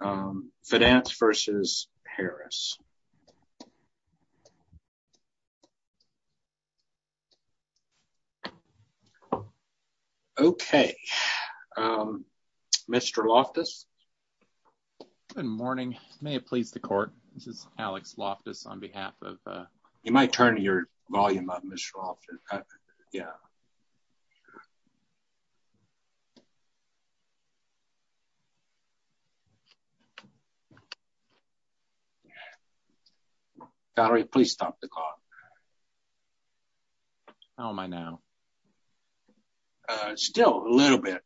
Um, finance versus Harris. Okay, um, Mr. Loftus, good morning. May it please the court. This is Alex Loftus on behalf of, uh, you might turn to your volume of Mr. Loftus. Yeah. Sorry, please stop the call. How am I now? Still a little bit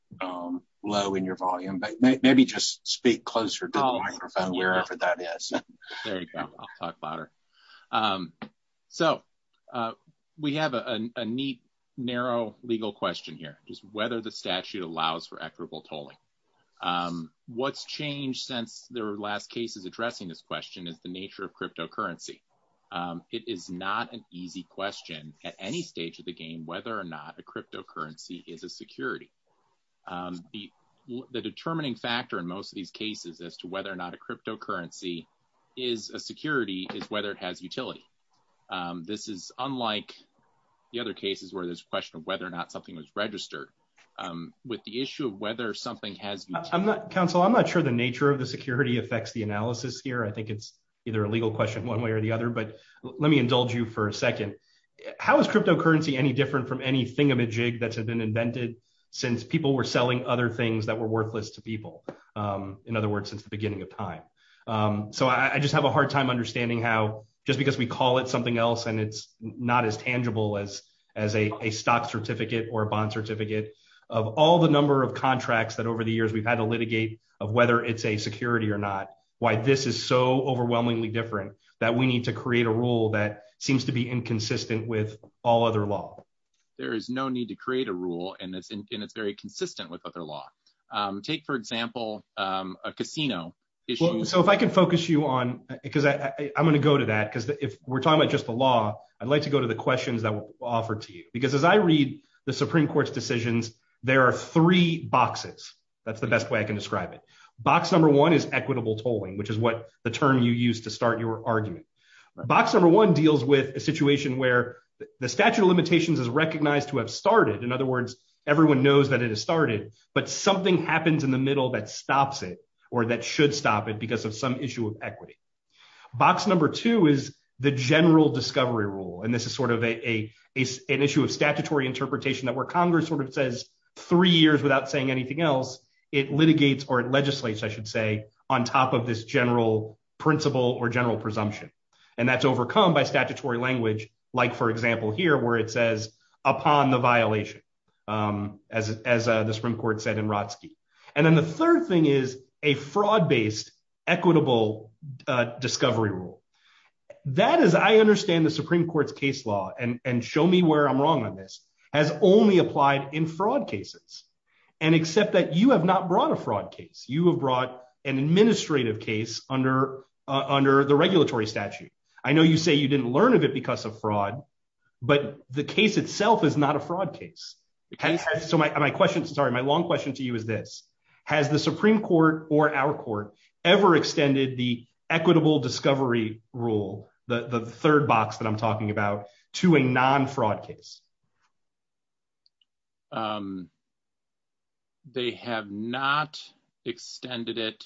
low in your volume, but maybe just speak closer to wherever that is. I'll talk louder. Um, so, uh, we have a neat, narrow legal question here is whether the statute allows for equitable tolling. Um, what's changed since there were last cases addressing this question is the nature of cryptocurrency. Um, it is not an easy question at any stage of the game, whether or not a cryptocurrency is a security. Um, the determining factor in most of these cases as to whether or not a cryptocurrency is a security is whether it has utility. Um, this is unlike the other cases where there's a question of whether or not something was registered, um, with the issue of whether something has, I'm not counsel. I'm not sure the nature of the security affects the analysis here. I think it's either a legal question one way or the other, but let me indulge you for a second. How is cryptocurrency any different from anything of a jig that's been invented since people were selling other things that were worthless to people. Um, in other words, since the beginning of time. Um, so I, I just have a hard time understanding how, just because we call it something else and it's not as tangible as, as a, a stock certificate or a bond certificate of all the number of contracts that over the years we've had to litigate of whether it's a security or not, why this is so overwhelmingly different that we need to create a rule that seems to be inconsistent with all other law. There is no need to create a rule. And it's, and it's very consistent with other law. Um, take for example, um, a casino. So if I can focus you on it, cause I, I'm going to go to that. Cause if we're talking about just the law, I'd like to go to the questions that were offered to you, because as I read the Supreme court's decisions, there are three boxes. That's the best way I can describe it. Box. Number one is equitable tolling, which is what the term you use to start your argument box. Number one deals with a situation where the statute of limitations is recognized to have started. In other words, everyone knows that it has started, but something happens in the middle that stops it or that should stop it because of some issue of equity box. Number two is the general discovery rule. And this is sort of a, a S an issue of statutory interpretation that where Congress sort of says three years without saying anything else, it litigates or it legislates, I should say on top of this general principle or general presumption. And that's overcome by statutory language. Like for example, here where it says upon the violation as, as the Supreme court said in Rotsky. And then the third thing is a fraud based equitable discovery rule. That is, I understand the Supreme court's case law and, and show me where I'm wrong on this has only applied in fraud cases. And except that you have not brought a fraud case. You have brought an administrative case under under the regulatory statute. I know you say you didn't learn of it because of fraud, but the case itself is not a fraud case. So my question, sorry, my long question to you is this, has the Supreme court or our court ever extended the equitable discovery rule, the third box that I'm talking about to a non fraud case. They have not extended it.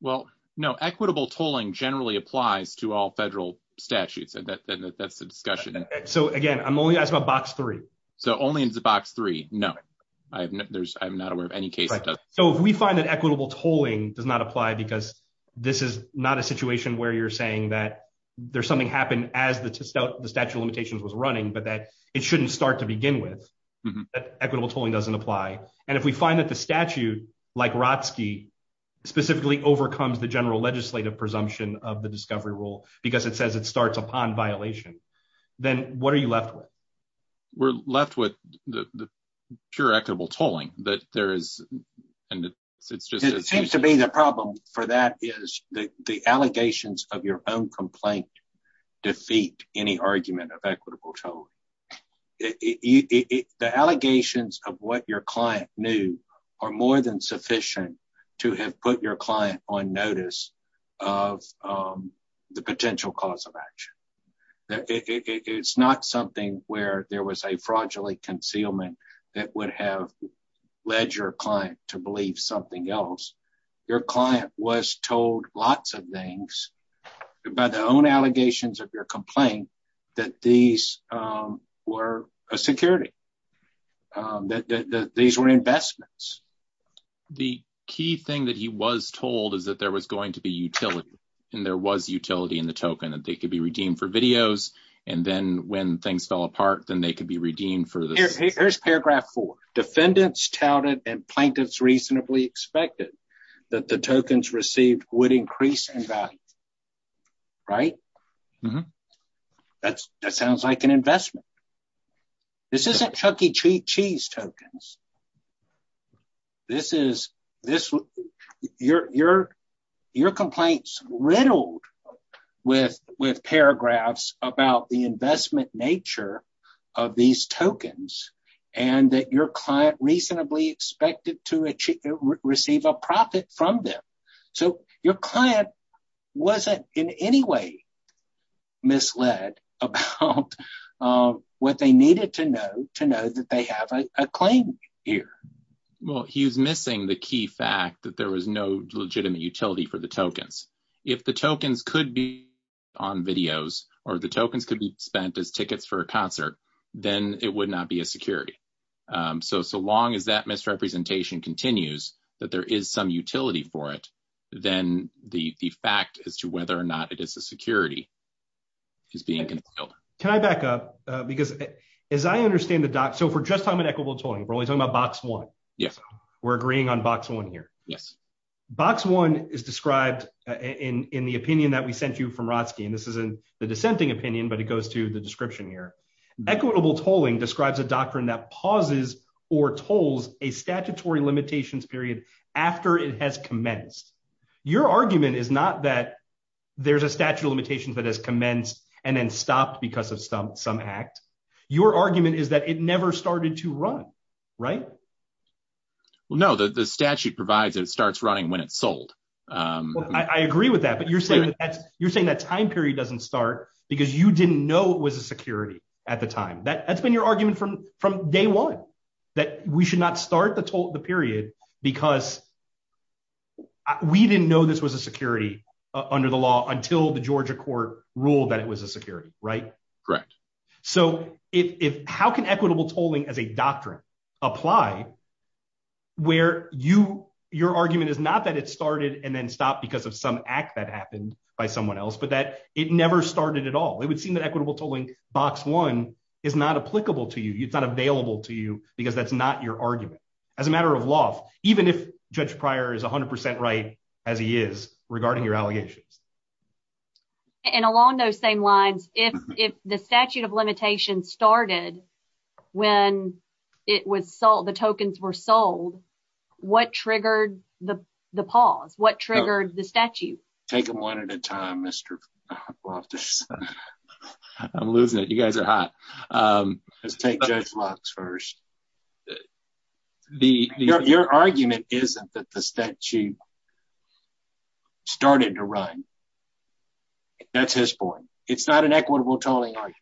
Well, no equitable tolling generally applies to all federal statutes and that that's the discussion. So again, I'm only asking about box three. So only in the box three. No, I have no, there's, I'm not aware of any case. So if we find that equitable tolling does not apply because this is not a situation where you're saying that there's something happened as the statue limitations was running, but that it shouldn't start to begin with equitable tolling doesn't apply. And if we find that the statute like Rotsky specifically overcomes the general legislative presumption of the discovery rule, because it says it starts upon violation, then what are you left with? We're left with the pure equitable tolling that there is. And it seems to be the problem for that is the allegations of your own complaint defeat any argument of equitable tolling. The allegations of what your client knew are more than sufficient to have put your client on notice of the potential cause of action. It's not something where there was a fraudulent concealment that would have led your client to believe something else. Your client was told lots of things about the own allegations of your complaint, that these were a security, that these were investments. The key thing that he was told is that there was going to be utility. And there was utility in the token that they could be redeemed for videos. And then when things fell apart, then they could be redeemed for this. Here's paragraph four defendants touted and plaintiffs reasonably expected that the tokens received would increase in value. Right. That's, that sounds like an investment. This isn't Chuckie cheat cheese tokens. This is your complaints riddled with paragraphs about the investment nature of these tokens and that your client reasonably expected to receive a profit from them. So your client wasn't in any way misled about what they needed to know to know that they have a claim here. Well, he's missing the key fact that there was no legitimate utility for the tokens. If the tokens could be on videos or the tokens could be spent as tickets for a concert, then it would not be a security. So, so long as that misrepresentation continues, that there is some utility for it. Then the fact as to whether or not it is a security is being concealed. Can I back up? Because as I understand the doc, so for just time and equitable tolling, we're only talking about box one. Yes. We're agreeing on box one here. Yes. Box one is described in the opinion that we sent you from Rotsky. And this isn't the dissenting opinion, but it goes to the description here. Equitable tolling describes a doctrine that pauses or tolls a statutory limitations period after it has commenced. Your argument is not that there's a statute of limitations that has commenced and then stopped because of some act. Your argument is that it never started to run. Right? No, the statute provides it starts running when it's sold. I agree with that. But you're saying that time period doesn't start because you didn't know it was a security at the time. That's been your argument from day one. That we should not start the period because we didn't know this was a security under the law until the Georgia court ruled that it was a security. Right? Correct. So how can equitable tolling as a doctrine apply where your argument is not that it started and then stopped because of some act that happened by someone else, but that it never started at all. It would seem that equitable tolling box one is not applicable to you. It's not available to you because that's not your argument. As a matter of law, even if Judge Pryor is 100% right as he is regarding your allegations. And along those same lines, if the statute of limitations started when it was sold, the tokens were sold, what triggered the pause? What triggered the statute? Take them one at a time, Mr. I'm losing it. You guys are hot. Let's take Judge Lux first. Your argument isn't that the statute started to run. That's his point. It's not an equitable tolling argument.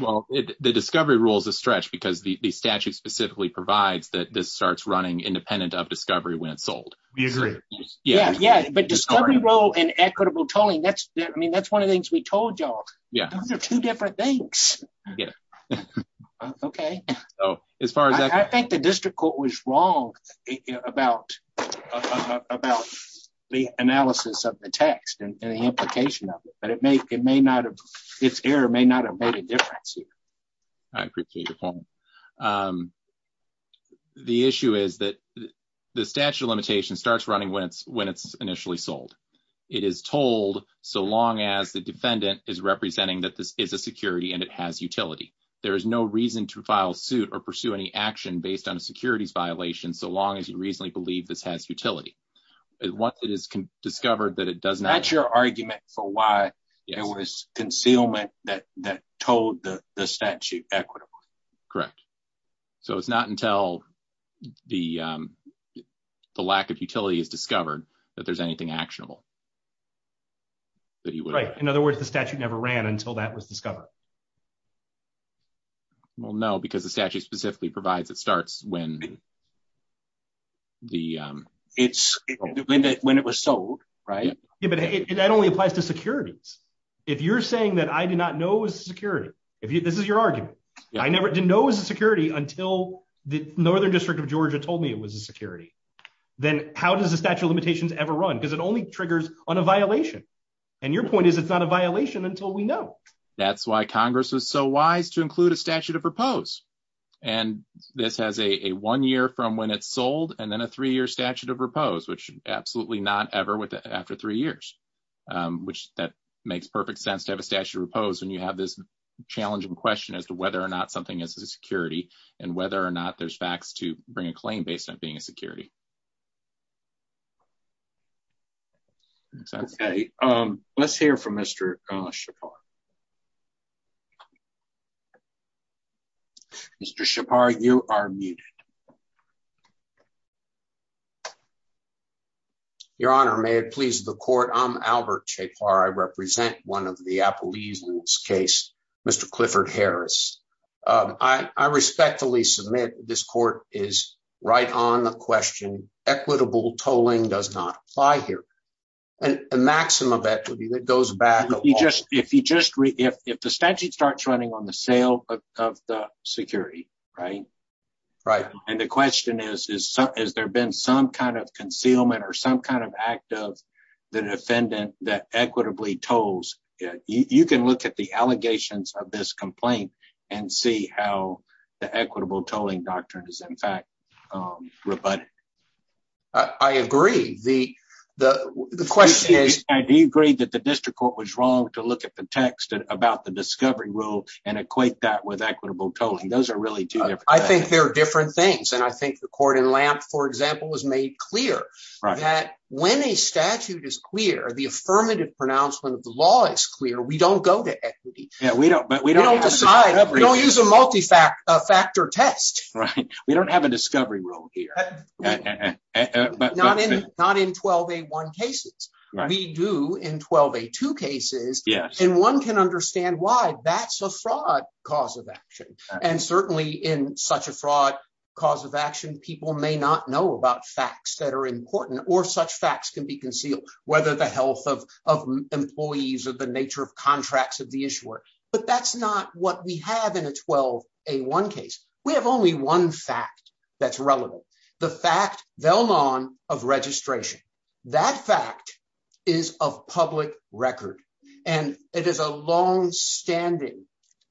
Well, the discovery rule is a stretch because the statute specifically provides that this starts running independent of discovery when it's sold. We agree. Yeah. Yeah. But discovery rule and equitable tolling. That's I mean, that's one of the things we told y'all. Yeah. Those are two different things. Yeah. Okay. Oh, as far as I think the district court was wrong about about the analysis of the text and the implication of it, but it may it may not have its error may not have made a difference here. I appreciate your point. The issue is that the statute of limitations starts running when it's when it's initially sold. It is told so long as the defendant is representing that this is a security and it has utility. There is no reason to file suit or pursue any action based on a securities violation. So long as you reasonably believe this has utility. Once it is discovered that it doesn't match your argument for why it was concealment that that told the statute equitable. Correct. So it's not until the lack of utility is discovered that there's anything actionable. Right. In other words, the statute never ran until that was discovered. Well, no, because the statute specifically provides it starts when the it's when it when it was sold. Right. Yeah. But that only applies to securities. If you're saying that I do not know is security. If this is your argument. I never did know is security until the northern district of Georgia told me it was a security. Then how does the statute of limitations ever run? Because it only triggers on a violation. And your point is, it's not a violation until we know. That's why Congress is so wise to include a statute of repose. And this has a one year from when it's sold and then a three year statute of repose, which absolutely not ever with after three years, which that makes perfect sense to have a statute of repose when you have this challenging question as to whether or not something is a security and whether or not there's facts to bring a claim based on being a security. Let's hear from Mr. Mr. Shepard, you are muted. Your Honor, may it please the court. I'm Albert Shepard. I represent one of the Applebee's case, Mr. Clifford Harris. I respectfully submit. This court is right on the question. Equitable tolling does not apply here. And a maximum of equity that goes back. If you just if the statute starts running on the sale of the security. Right. Right. And the question is, is there been some kind of concealment or some kind of act of the defendant that equitably tolls? You can look at the allegations of this complaint and see how the equitable tolling doctrine is, in fact, rebutted. I agree. The the question is, do you agree that the district court was wrong to look at the text about the discovery rule and equate that with equitable tolling? Those are really, I think there are different things. And I think the court in Lamp, for example, was made clear that when a statute is clear, the affirmative pronouncement of the law is clear. We don't go to equity. We don't but we don't decide. We don't use a multifactor test. Right. We don't have a discovery rule here. But not in not in 12, a one cases we do in 12, a two cases. Yes. And one can understand why that's a fraud cause of action. And certainly in such a fraud cause of action, people may not know about facts that are important or such facts can be concealed. Whether the health of of employees or the nature of contracts of the issuer. But that's not what we have in a 12, a one case. We have only one fact that's relevant. The fact they'll none of registration. That fact is of public record and it is a long standing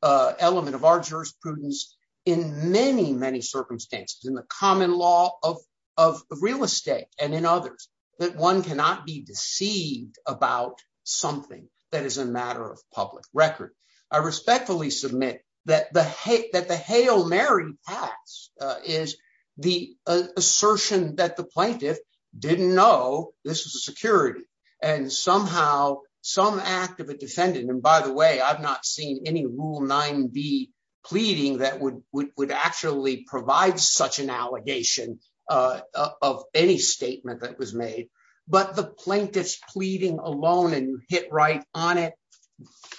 element of our jurisprudence in many, many circumstances in the common law of of real estate and in others that one cannot be deceived about something that is a matter of public record. I respectfully submit that the hate that the hail Mary tax is the assertion that the plaintiff didn't know this was a security and somehow some act of a defendant. And by the way, I've not seen any rule nine be pleading that would would actually provide such an allegation of any statement that was made. But the plaintiff's pleading alone and hit right on it.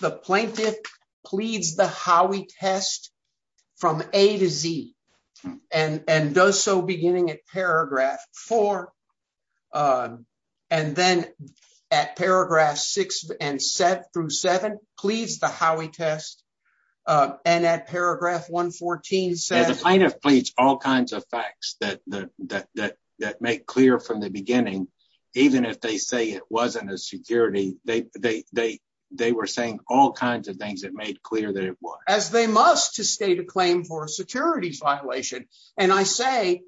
The plaintiff pleads the how we test from A to Z and does so beginning at paragraph four. And then at paragraph six and seven through seven, please, the how we test and at paragraph 114. So the plaintiff pleads all kinds of facts that that that that make clear from the beginning, even if they say it wasn't a security. They they they they were saying all kinds of things that made clear that it was as they must to state a claim for securities violation. And I say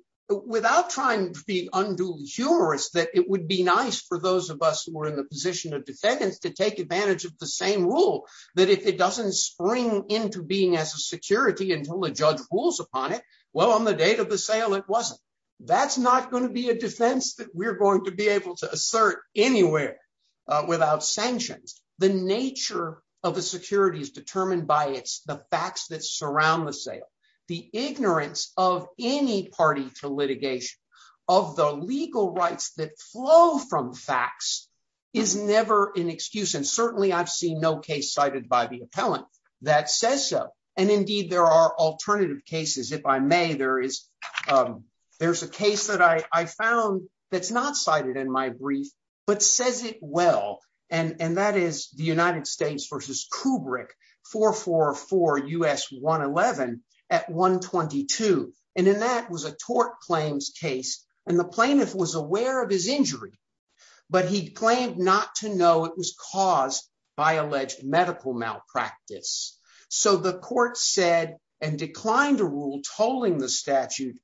without trying to be unduly humorous, that it would be nice for those of us who were in the position of defendants to take advantage of the same rule, that if it doesn't spring into being as a security until the judge rules upon it. Well, on the date of the sale, it wasn't. That's not going to be a defense that we're going to be able to assert anywhere without sanctions. The nature of the security is determined by the facts that surround the sale. The ignorance of any party to litigation of the legal rights that flow from facts is never an excuse. And certainly I've seen no case cited by the appellant that says so. And indeed, there are alternative cases. If I may, there is there's a case that I found that's not cited in my brief, but says it well. And that is the United States versus Kubrick for four for US one eleven at one twenty two. And then that was a tort claims case. And the plaintiff was aware of his injury, but he claimed not to know it was caused by alleged medical malpractice. So the court said and declined to rule tolling the statute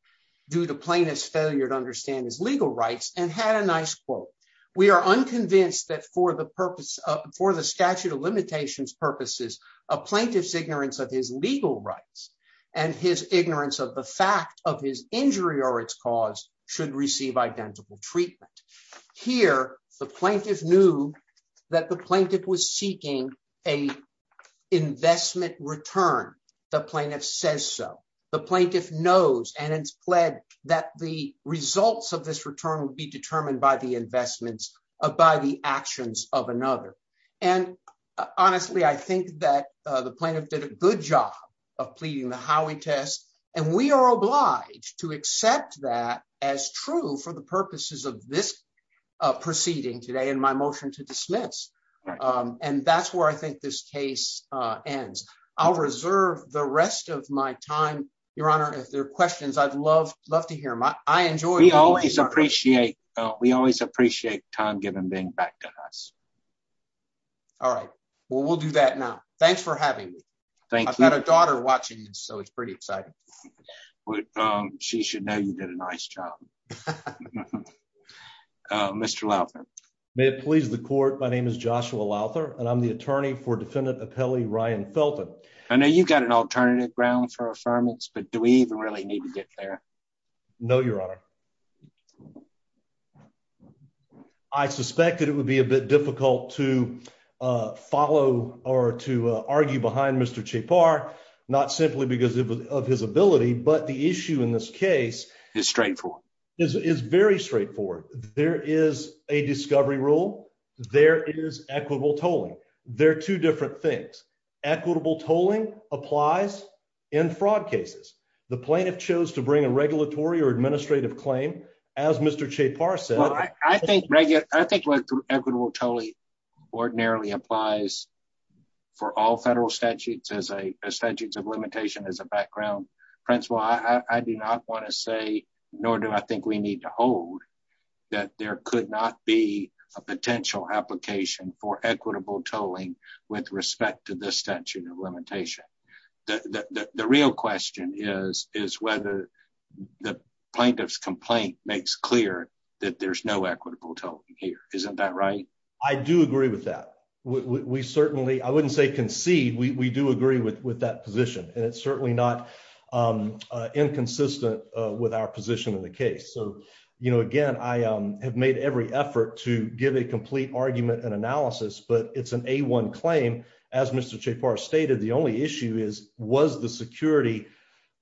due to plaintiff's failure to understand his legal rights and had a nice quote. We are unconvinced that for the purpose for the statute of limitations purposes, a plaintiff's ignorance of his legal rights and his ignorance of the fact of his injury or its cause should receive identical treatment. Here, the plaintiff knew that the plaintiff was seeking a investment return. The plaintiff says so. The plaintiff knows and it's pled that the results of this return would be determined by the investments of by the actions of another. And honestly, I think that the plaintiff did a good job of pleading the Howie test. And we are obliged to accept that as true for the purposes of this proceeding today in my motion to dismiss. And that's where I think this case ends. I'll reserve the rest of my time, Your Honor. If there are questions, I'd love love to hear my I enjoy. We always appreciate we always appreciate time given being back to us. All right. Well, we'll do that now. Thanks for having me. Thank you. I've got a daughter watching. So it's pretty exciting. She should know you did a nice job. Mr. May it please the court. My name is Joshua Louther, and I'm the attorney for Defendant Appellee Ryan Felton. I know you've got an alternative ground for affirmance, but do we even really need to get there? No, Your Honor. I suspected it would be a bit difficult to follow or to argue behind Mr. Chapar, not simply because of his ability, but the issue in this case is straightforward. This is very straightforward. There is a discovery rule. There is equitable tolling. There are two different things. Equitable tolling applies in fraud cases. The plaintiff chose to bring a regulatory or administrative claim, as Mr. Chapar said, I think regular I think what equitable tolling ordinarily applies for all federal statutes as a statute of limitation as a background principle. I do not want to say, nor do I think we need to hold that there could not be a potential application for equitable tolling with respect to the statute of limitation. The real question is, is whether the plaintiff's complaint makes clear that there's no equitable tolling here. Isn't that right? I do agree with that. We certainly I wouldn't say concede. We do agree with with that position. And it's certainly not inconsistent with our position in the case. So, you know, again, I have made every effort to give a complete argument and analysis, but it's an A1 claim. As Mr. Chapar stated, the only issue is, was the security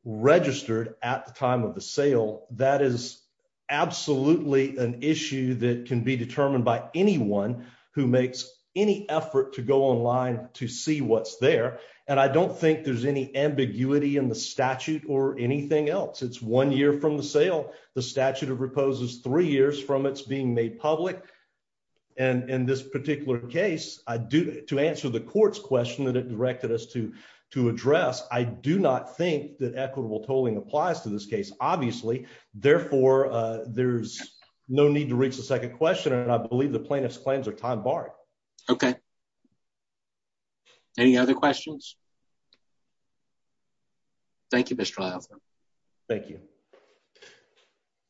registered at the time of the sale? That is absolutely an issue that can be determined by anyone who makes any effort to go online to see what's there. And I don't think there's any ambiguity in the statute or anything else. It's one year from the sale. The statute of repose is three years from its being made public. And in this particular case, I do to answer the court's question that it directed us to to address. I do not think that equitable tolling applies to this case, obviously. Therefore, there's no need to reach the second question. And I believe the plaintiff's claims are time barred. OK. Any other questions? Thank you, Mr. Thank you.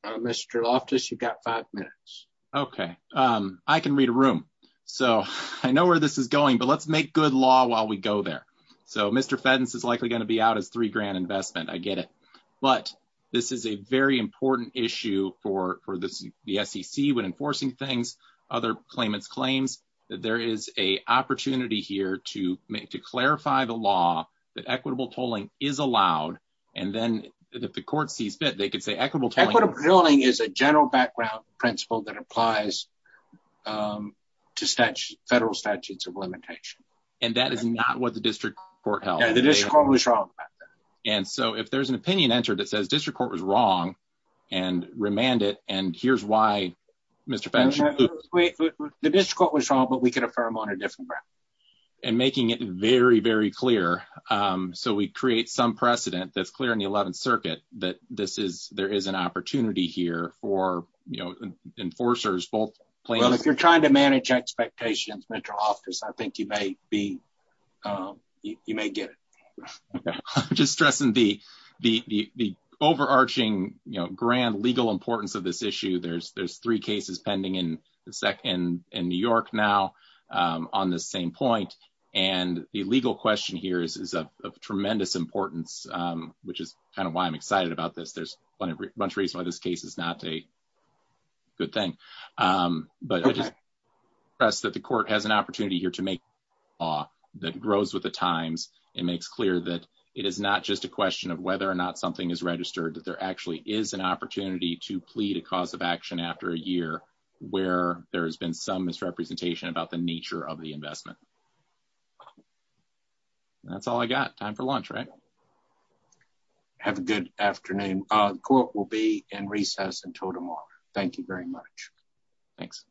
Mr. Loftus, you've got five minutes. OK, I can read a room. So I know where this is going, but let's make good law while we go there. So Mr. Fenton's is likely going to be out as three grand investment. I get it. But this is a very important issue for the SEC when enforcing things. Other claimants claims that there is a opportunity here to make to clarify the law that equitable tolling is allowed. And then if the court sees fit, they could say equitable. Equitable tolling is a general background principle that applies to federal statutes of limitation. And that is not what the district court held. The district court was wrong about that. And so if there's an opinion entered, it says district court was wrong and remanded. And here's why, Mr. Fenton, the district court was wrong, but we could affirm on a different ground and making it very, very clear. So we create some precedent that's clear in the 11th Circuit that this is there is an opportunity here for enforcers. If you're trying to manage expectations, Metro office, I think you may be you may get it. Just stressing the the the overarching grand legal importance of this issue. There's there's three cases pending in the SEC and in New York now on the same point. And the legal question here is of tremendous importance, which is kind of why I'm excited about this. There's a bunch of reasons why this case is not a good thing. But I just press that the court has an opportunity here to make law that grows with the times. It makes clear that it is not just a question of whether or not something is registered, that there actually is an opportunity to plead a cause of action after a year where there has been some misrepresentation about the nature of the investment. That's all I got time for lunch, right? Have a good afternoon. Court will be in recess until tomorrow. Thank you very much. Thanks.